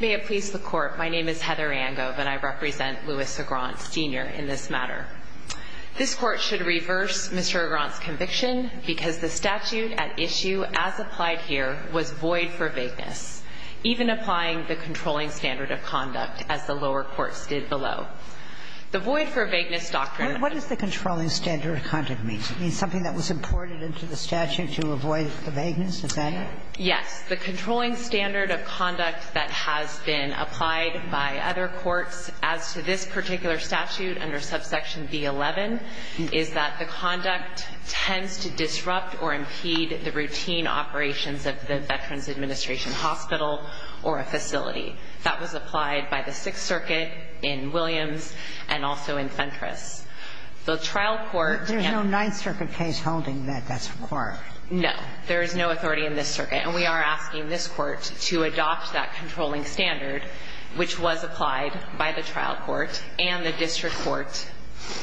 May it please the Court, my name is Heather Angove and I represent Louis Agront, Sr. in this matter. This Court should reverse Mr. Agront's conviction because the statute at issue as applied here was void for vagueness, even applying the controlling standard of conduct as the lower courts did below. The void for vagueness doctrine... What does the controlling standard of conduct mean? It means something that was imported into the statute to avoid the vagueness, is that it? Yes. The controlling standard of conduct that has been applied by other courts as to this particular statute under subsection B-11 is that the conduct tends to disrupt or impede the routine operations of the Veterans Administration Hospital or a facility. That was applied by the Sixth Circuit in Williams and also in Fentress. The trial court... There's no Ninth Circuit case holding that that's required. No. There is no authority in this circuit and we are asking this Court to adopt that controlling standard which was applied by the trial court and the district court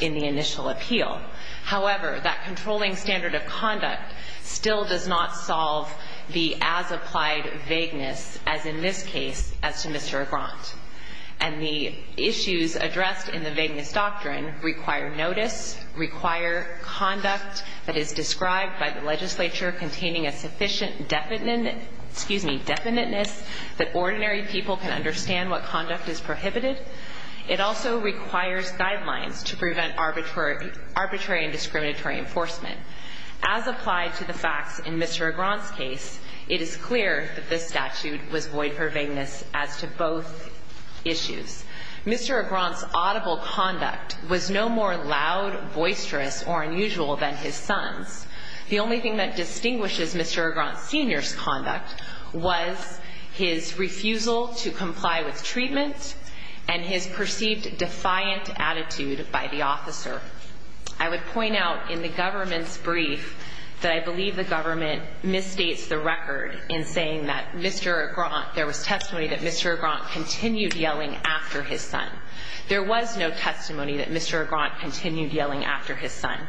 in the initial appeal. However, that controlling standard of conduct still does not solve the as-applied vagueness as in this case as to Mr. Agront. And the issues addressed in the vagueness doctrine require notice, require conduct that is described by the legislature containing a sufficient definiteness that ordinary people can understand what conduct is prohibited. It also requires guidelines to prevent arbitrary and discriminatory enforcement. As applied to the facts in Mr. Agront's case, it is clear that this statute was void for vagueness as to both issues. Mr. Agront's audible conduct was no more loud, boisterous, or unusual than his son's. The only thing that distinguishes Mr. Agront Sr.'s conduct was his refusal to comply with treatment and his perceived defiant attitude by the officer. I would point out in the government's brief that I believe the government misstates the record in saying that Mr. Agront, there was testimony that Mr. Agront continued yelling after his son. There was no testimony that Mr. Agront continued yelling after his son.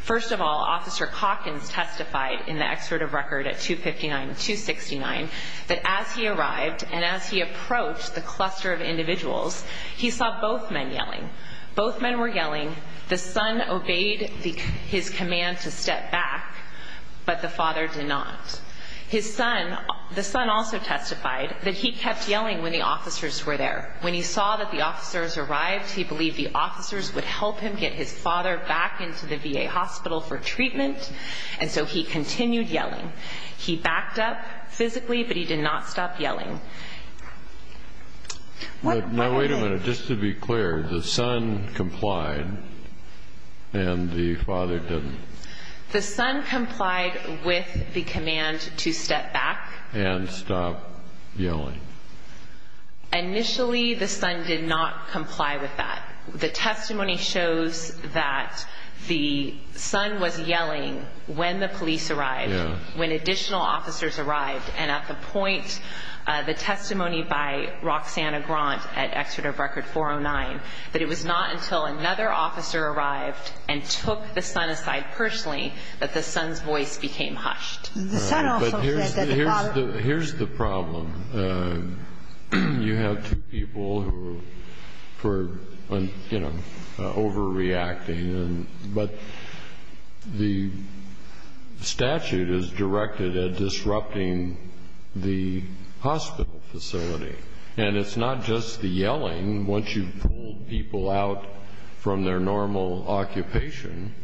First of all, Officer Calkins testified in the excerpt of record at 259-269 that as he arrived and as he approached the cluster of individuals, he saw both men yelling. Both men were yelling. The son obeyed his command to step back, but the father did not. His son, the son also testified that he kept yelling when the officers were there. When he saw that the officers arrived, he believed the officers would help him get his father back into the VA hospital for treatment, and so he continued yelling. He backed up physically, but he did not stop yelling. Now, wait a minute. Just to be clear, the son complied and the father didn't. The son complied with the command to step back. And stop yelling. Initially, the son did not comply with that. The testimony shows that the son was yelling when the police arrived, when additional officers arrived. And at the point, the testimony by Roxanna Grant at excerpt of record 409, that it was not until another officer arrived and took the son aside personally that the son's voice became hushed. The son also said that the father... Here's the problem. You have two people who are overreacting. But the statute is directed at disrupting the hospital facility. And it's not just the yelling. Once you've pulled people out from their normal occupation,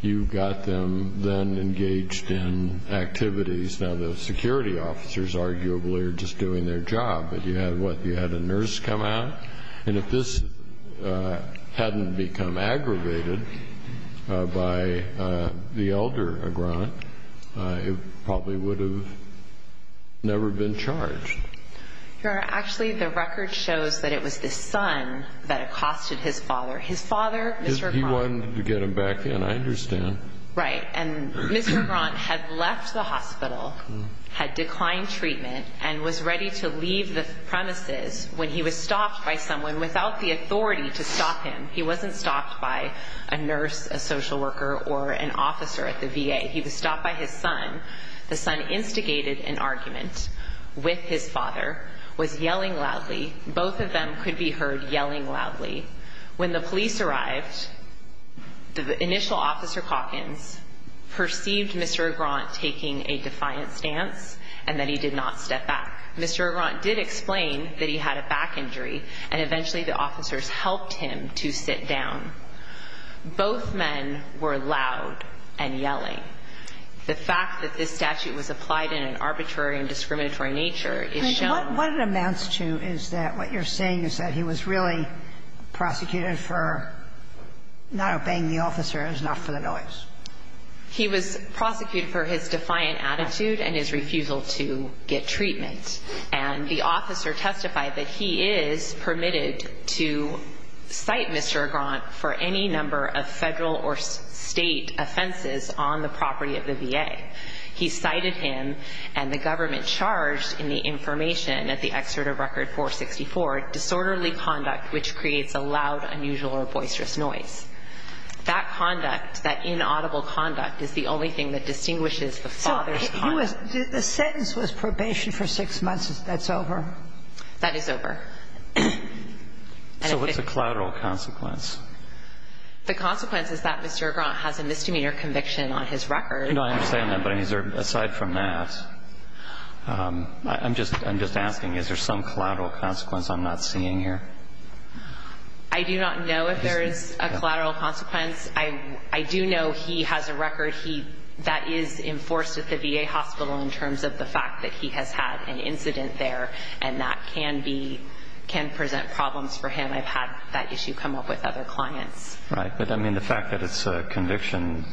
you've got them then engaged in activities. Now, the security officers arguably are just doing their job. But you had, what, you had a nurse come out? And if this hadn't become aggravated by the elder Grant, it probably would have never been charged. Actually, the record shows that it was the son that accosted his father. His father, Mr. Grant... He wanted to get him back in, I understand. Right. And Mr. Grant had left the hospital, had declined treatment, and was ready to leave the premises when he was stopped by someone without the authority to stop him. He wasn't stopped by a nurse, a social worker, or an officer at the VA. He was stopped by his son. The son instigated an argument with his father, was yelling loudly. Both of them could be heard yelling loudly. When the police arrived, the initial Officer Calkins perceived Mr. Grant taking a defiant stance and that he did not step back. Mr. Grant did explain that he had a back injury, and eventually the officers helped him to sit down. Both men were loud and yelling. The fact that this statute was applied in an arbitrary and discriminatory nature is shown... What it amounts to is that what you're saying is that he was really prosecuted for not obeying the officers, not for the noise. He was prosecuted for his defiant attitude and his refusal to get treatment. And the officer testified that he is permitted to cite Mr. Grant for any number of federal or state offenses on the property of the VA. He cited him, and the government charged in the information at the excerpt of Record 464, disorderly conduct which creates a loud, unusual, or boisterous noise. That conduct, that inaudible conduct, is the only thing that distinguishes the father's heart. So the sentence was probation for six months. That's over? That is over. So what's the collateral consequence? The consequence is that Mr. Grant has a misdemeanor conviction on his record. No, I understand that, but aside from that, I'm just asking, is there some collateral consequence I'm not seeing here? I do not know if there is a collateral consequence. I do know he has a record that is enforced at the VA hospital in terms of the fact that he has had an incident there, and that can present problems for him. I've had that issue come up with other clients. Right, but, I mean, the fact that it's a conviction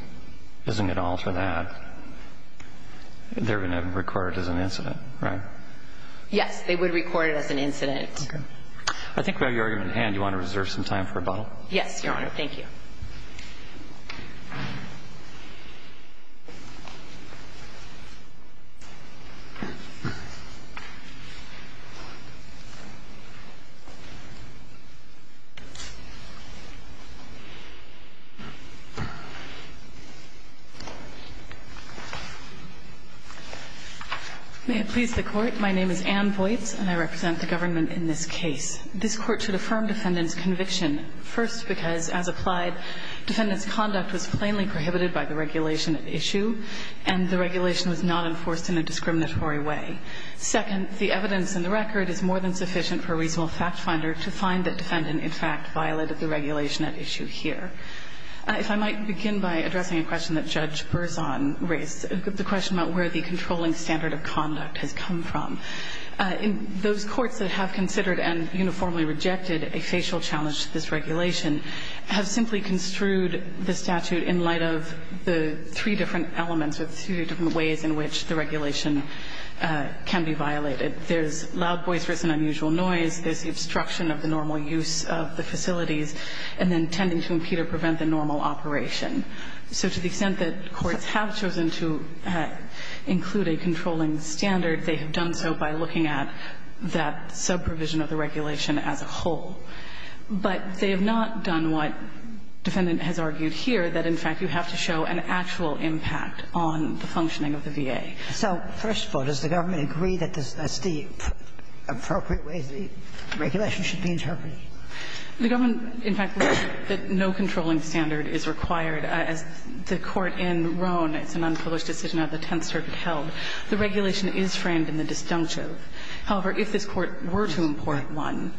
isn't going to alter that. They're going to record it as an incident, right? Yes, they would record it as an incident. Okay. I think we have your argument at hand. Do you want to reserve some time for rebuttal? Yes, Your Honor. Thank you. May it please the Court. My name is Ann Voights, and I represent the government in this case. This Court should affirm defendant's conviction, first because, as applied, defendant's conduct was plainly prohibited by the regulation at issue, and the regulation was not enforced in a discriminatory way. Second, the evidence in the record is more than sufficient for a reasonable factfinder to find that defendant, in fact, violated the regulation at issue here. If I might begin by addressing a question that Judge Berzon raised, the question about where the controlling standard of conduct has come from. Those courts that have considered and uniformly rejected a facial challenge to this regulation have simply construed the statute in light of the three different elements or the three different ways in which the regulation can be violated. There's loud voices and unusual noise. There's the obstruction of the normal use of the facilities, and then tending to impede or prevent the normal operation. So to the extent that courts have chosen to include a controlling standard, they have done so by looking at that subprovision of the regulation as a whole. But they have not done what defendant has argued here, that, in fact, you have to show an actual impact on the functioning of the VA. So first of all, does the government agree that that's the appropriate way the regulation should be interpreted? The government, in fact, believes that no controlling standard is required. As the Court in Roan, it's an unpublished decision out of the Tenth Circuit, held. The regulation is framed in the disjunctive. However, if this Court were to import one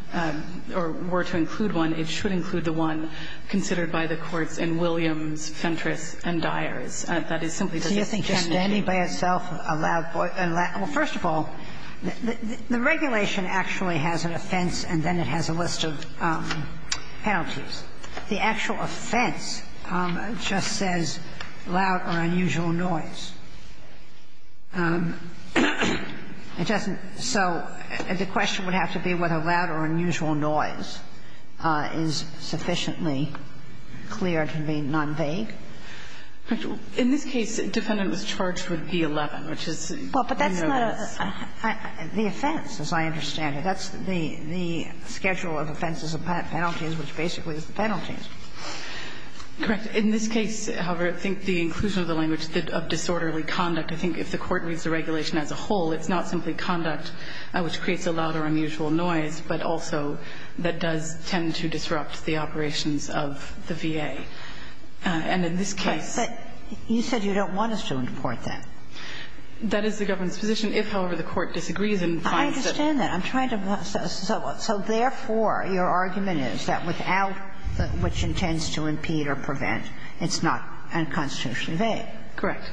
or were to include one, it should include the one considered by the courts in Williams, Fentress, and Dyers. That is simply because it can't be used. It's a question of whether the defendant is standing by itself, a loud voice. Well, first of all, the regulation actually has an offense and then it has a list of penalties. The actual offense just says, loud or unusual noise. It doesn't so the question would have to be whether loud or unusual noise is sufficiently clear to be non-vague. In this case, defendant was charged with B-11, which is, you know. Well, but that's the offense, as I understand it. That's the schedule of offenses and penalties, which basically is the penalties. Correct. In this case, however, I think the inclusion of the language of disorderly conduct I think if the Court reads the regulation as a whole, it's not simply conduct which creates a loud or unusual noise, but also that does tend to disrupt the operations of the VA. And in this case. But you said you don't want us to import that. That is the government's position. If, however, the Court disagrees and finds that. I understand that. I'm trying to. So therefore, your argument is that without which intends to impede or prevent, it's not unconstitutionally vague. Correct.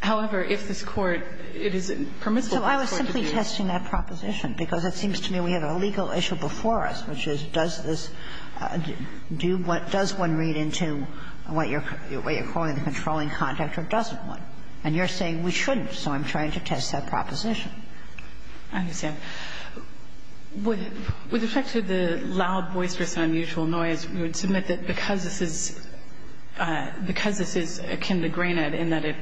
However, if this Court, it is permissible for the Court to do. So I was simply testing that proposition, because it seems to me we have a legal issue before us, which is does this do what does one read into what you're calling the controlling conduct or doesn't one. And you're saying we shouldn't. So I'm trying to test that proposition. I understand. With respect to the loud, boisterous, unusual noise, we would submit that because this is akin to granted in that it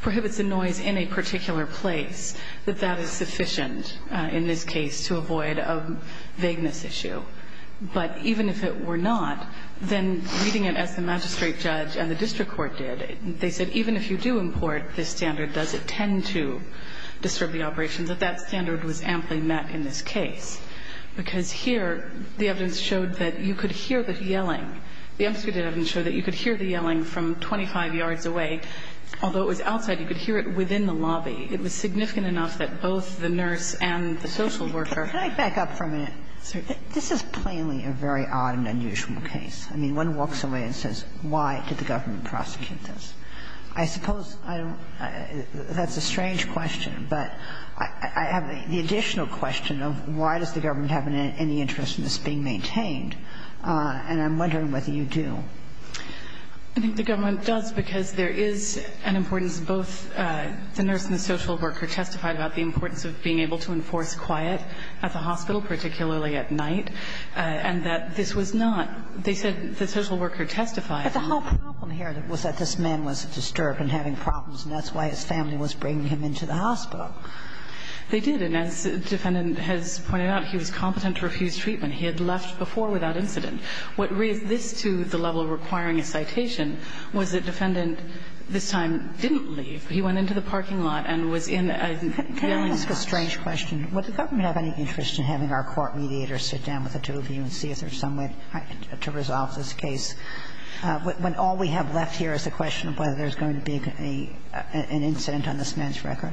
prohibits the noise in a particular place, that that is sufficient in this case to avoid a vagueness issue. But even if it were not, then reading it as the magistrate judge and the district court did, they said even if you do import this standard, does it tend to disturb the operation, that that standard was amply met in this case. Because here the evidence showed that you could hear the yelling. The emphasized evidence showed that you could hear the yelling from 25 yards away. Although it was outside, you could hear it within the lobby. It was significant enough that both the nurse and the social worker. Can I back up for a minute? Sorry. This is plainly a very odd and unusual case. I mean, one walks away and says, why did the government prosecute this? I suppose that's a strange question, but I have the additional question of why does the government have any interest in this being maintained, and I'm wondering whether you do. I think the government does because there is an importance of both the nurse and the social worker testified about the importance of being able to enforce quiet at the hospital, particularly at night, and that this was not. They said the social worker testified. But the whole problem here was that this man was disturbed and having problems, and that's why his family was bringing him into the hospital. They did. And as the defendant has pointed out, he was competent to refuse treatment. He had left before without incident. What raised this to the level of requiring a citation was that defendant this time didn't leave. He went into the parking lot and was in a kneeling position. Can I ask a strange question? Would the government have any interest in having our court mediators sit down with the two of you and see if there's some way to resolve this case, when all we have left here is the question of whether there's going to be an incident on this man's record?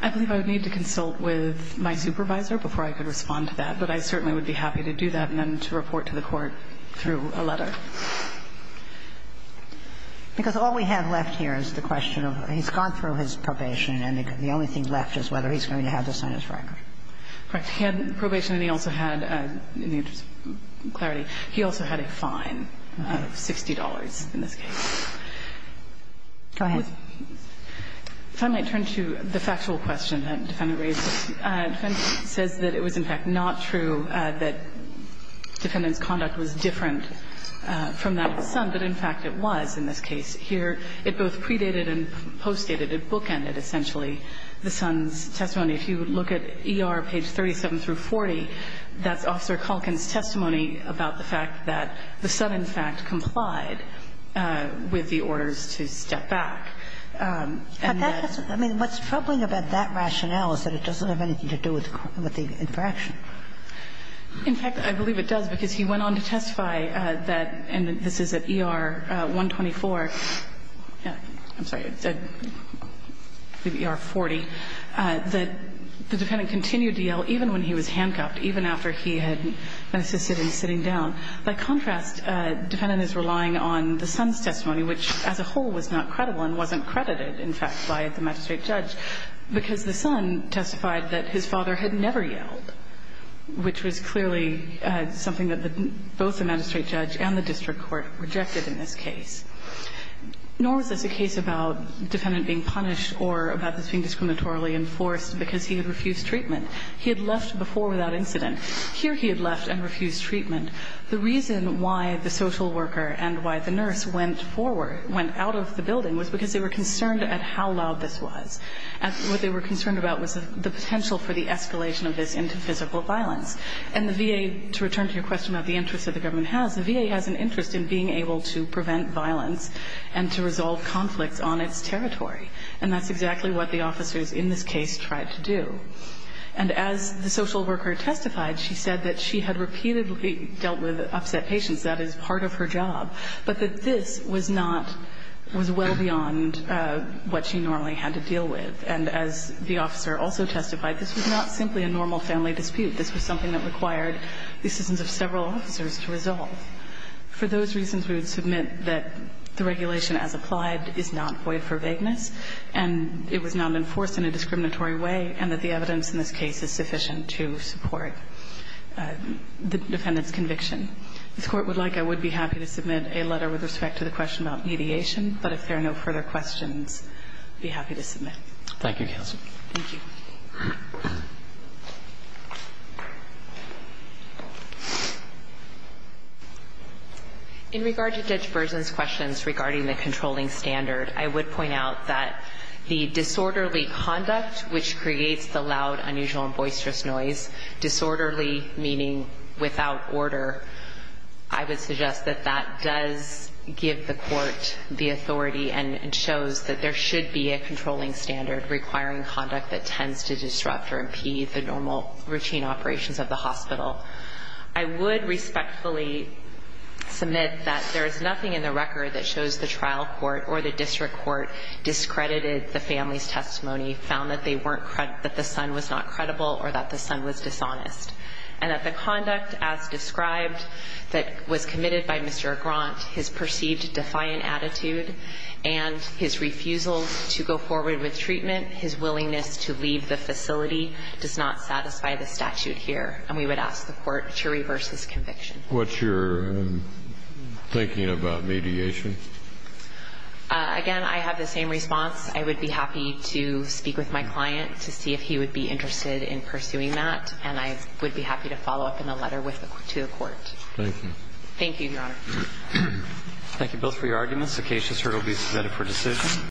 I believe I would need to consult with my supervisor before I could respond to that, but I certainly would be happy to do that and then to report to the court through a letter. Because all we have left here is the question of he's gone through his probation and the only thing left is whether he's going to have this on his record. Correct. He had probation and he also had, in the interest of clarity, he also had a fine of $60 in this case. Go ahead. If I might turn to the factual question that the defendant raised. The defendant says that it was, in fact, not true that defendant's conduct was different from that of the son, but, in fact, it was in this case. Here, it both predated and postdated, it bookended, essentially, the son's testimony. If you look at ER page 37 through 40, that's Officer Culkin's testimony about the fact that the son, in fact, complied with the orders to step back. But that doesn't – I mean, what's troubling about that rationale is that it doesn't have anything to do with the infraction. In fact, I believe it does, because he went on to testify that – and this is at ER 124 – yeah, I'm sorry, ER 40 – that the defendant continued to yell even when he was handcuffed, even after he had been assisted in sitting down. By contrast, the defendant is relying on the son's testimony, which as a whole was not credible and wasn't credited, in fact, by the magistrate judge, because the son testified that his father had never yelled, which was clearly something that both the magistrate judge and the district court rejected in this case. Nor was this a case about the defendant being punished or about this being discriminatorily enforced because he had refused treatment. He had left before without incident. Here, he had left and refused treatment. The reason why the social worker and why the nurse went forward, went out of the potential for the escalation of this into physical violence. And the VA, to return to your question about the interest that the government has, the VA has an interest in being able to prevent violence and to resolve conflicts on its territory. And that's exactly what the officers in this case tried to do. And as the social worker testified, she said that she had repeatedly dealt with upset patients. That is part of her job. But that this was not – was well beyond what she normally had to deal with. And as the officer also testified, this was not simply a normal family dispute. This was something that required the assistance of several officers to resolve. For those reasons, we would submit that the regulation as applied is not void for vagueness, and it was not enforced in a discriminatory way, and that the evidence in this case is sufficient to support the defendant's conviction. If the Court would like, I would be happy to submit a letter with respect to the question about mediation. But if there are no further questions, I'd be happy to submit. Thank you, counsel. Thank you. In regard to Judge Berzin's questions regarding the controlling standard, I would point out that the disorderly conduct, which creates the loud, unusual, and boisterous noise, disorderly meaning without order, I would suggest that that does give the standard, requiring conduct that tends to disrupt or impede the normal routine operations of the hospital. I would respectfully submit that there is nothing in the record that shows the trial court or the district court discredited the family's testimony, found that they weren't – that the son was not credible or that the son was dishonest, and that the conduct as described that was committed by Mr. Grant, his perceived defiant attitude, and his refusal to go forward with treatment, his willingness to leave the facility, does not satisfy the statute here. And we would ask the Court to reverse this conviction. What's your thinking about mediation? Again, I have the same response. I would be happy to speak with my client to see if he would be interested in pursuing that. And I would be happy to follow up in a letter with the – to the Court. Thank you. Thank you, Your Honor. Thank you both for your arguments. The case has heard will be submitted for decision.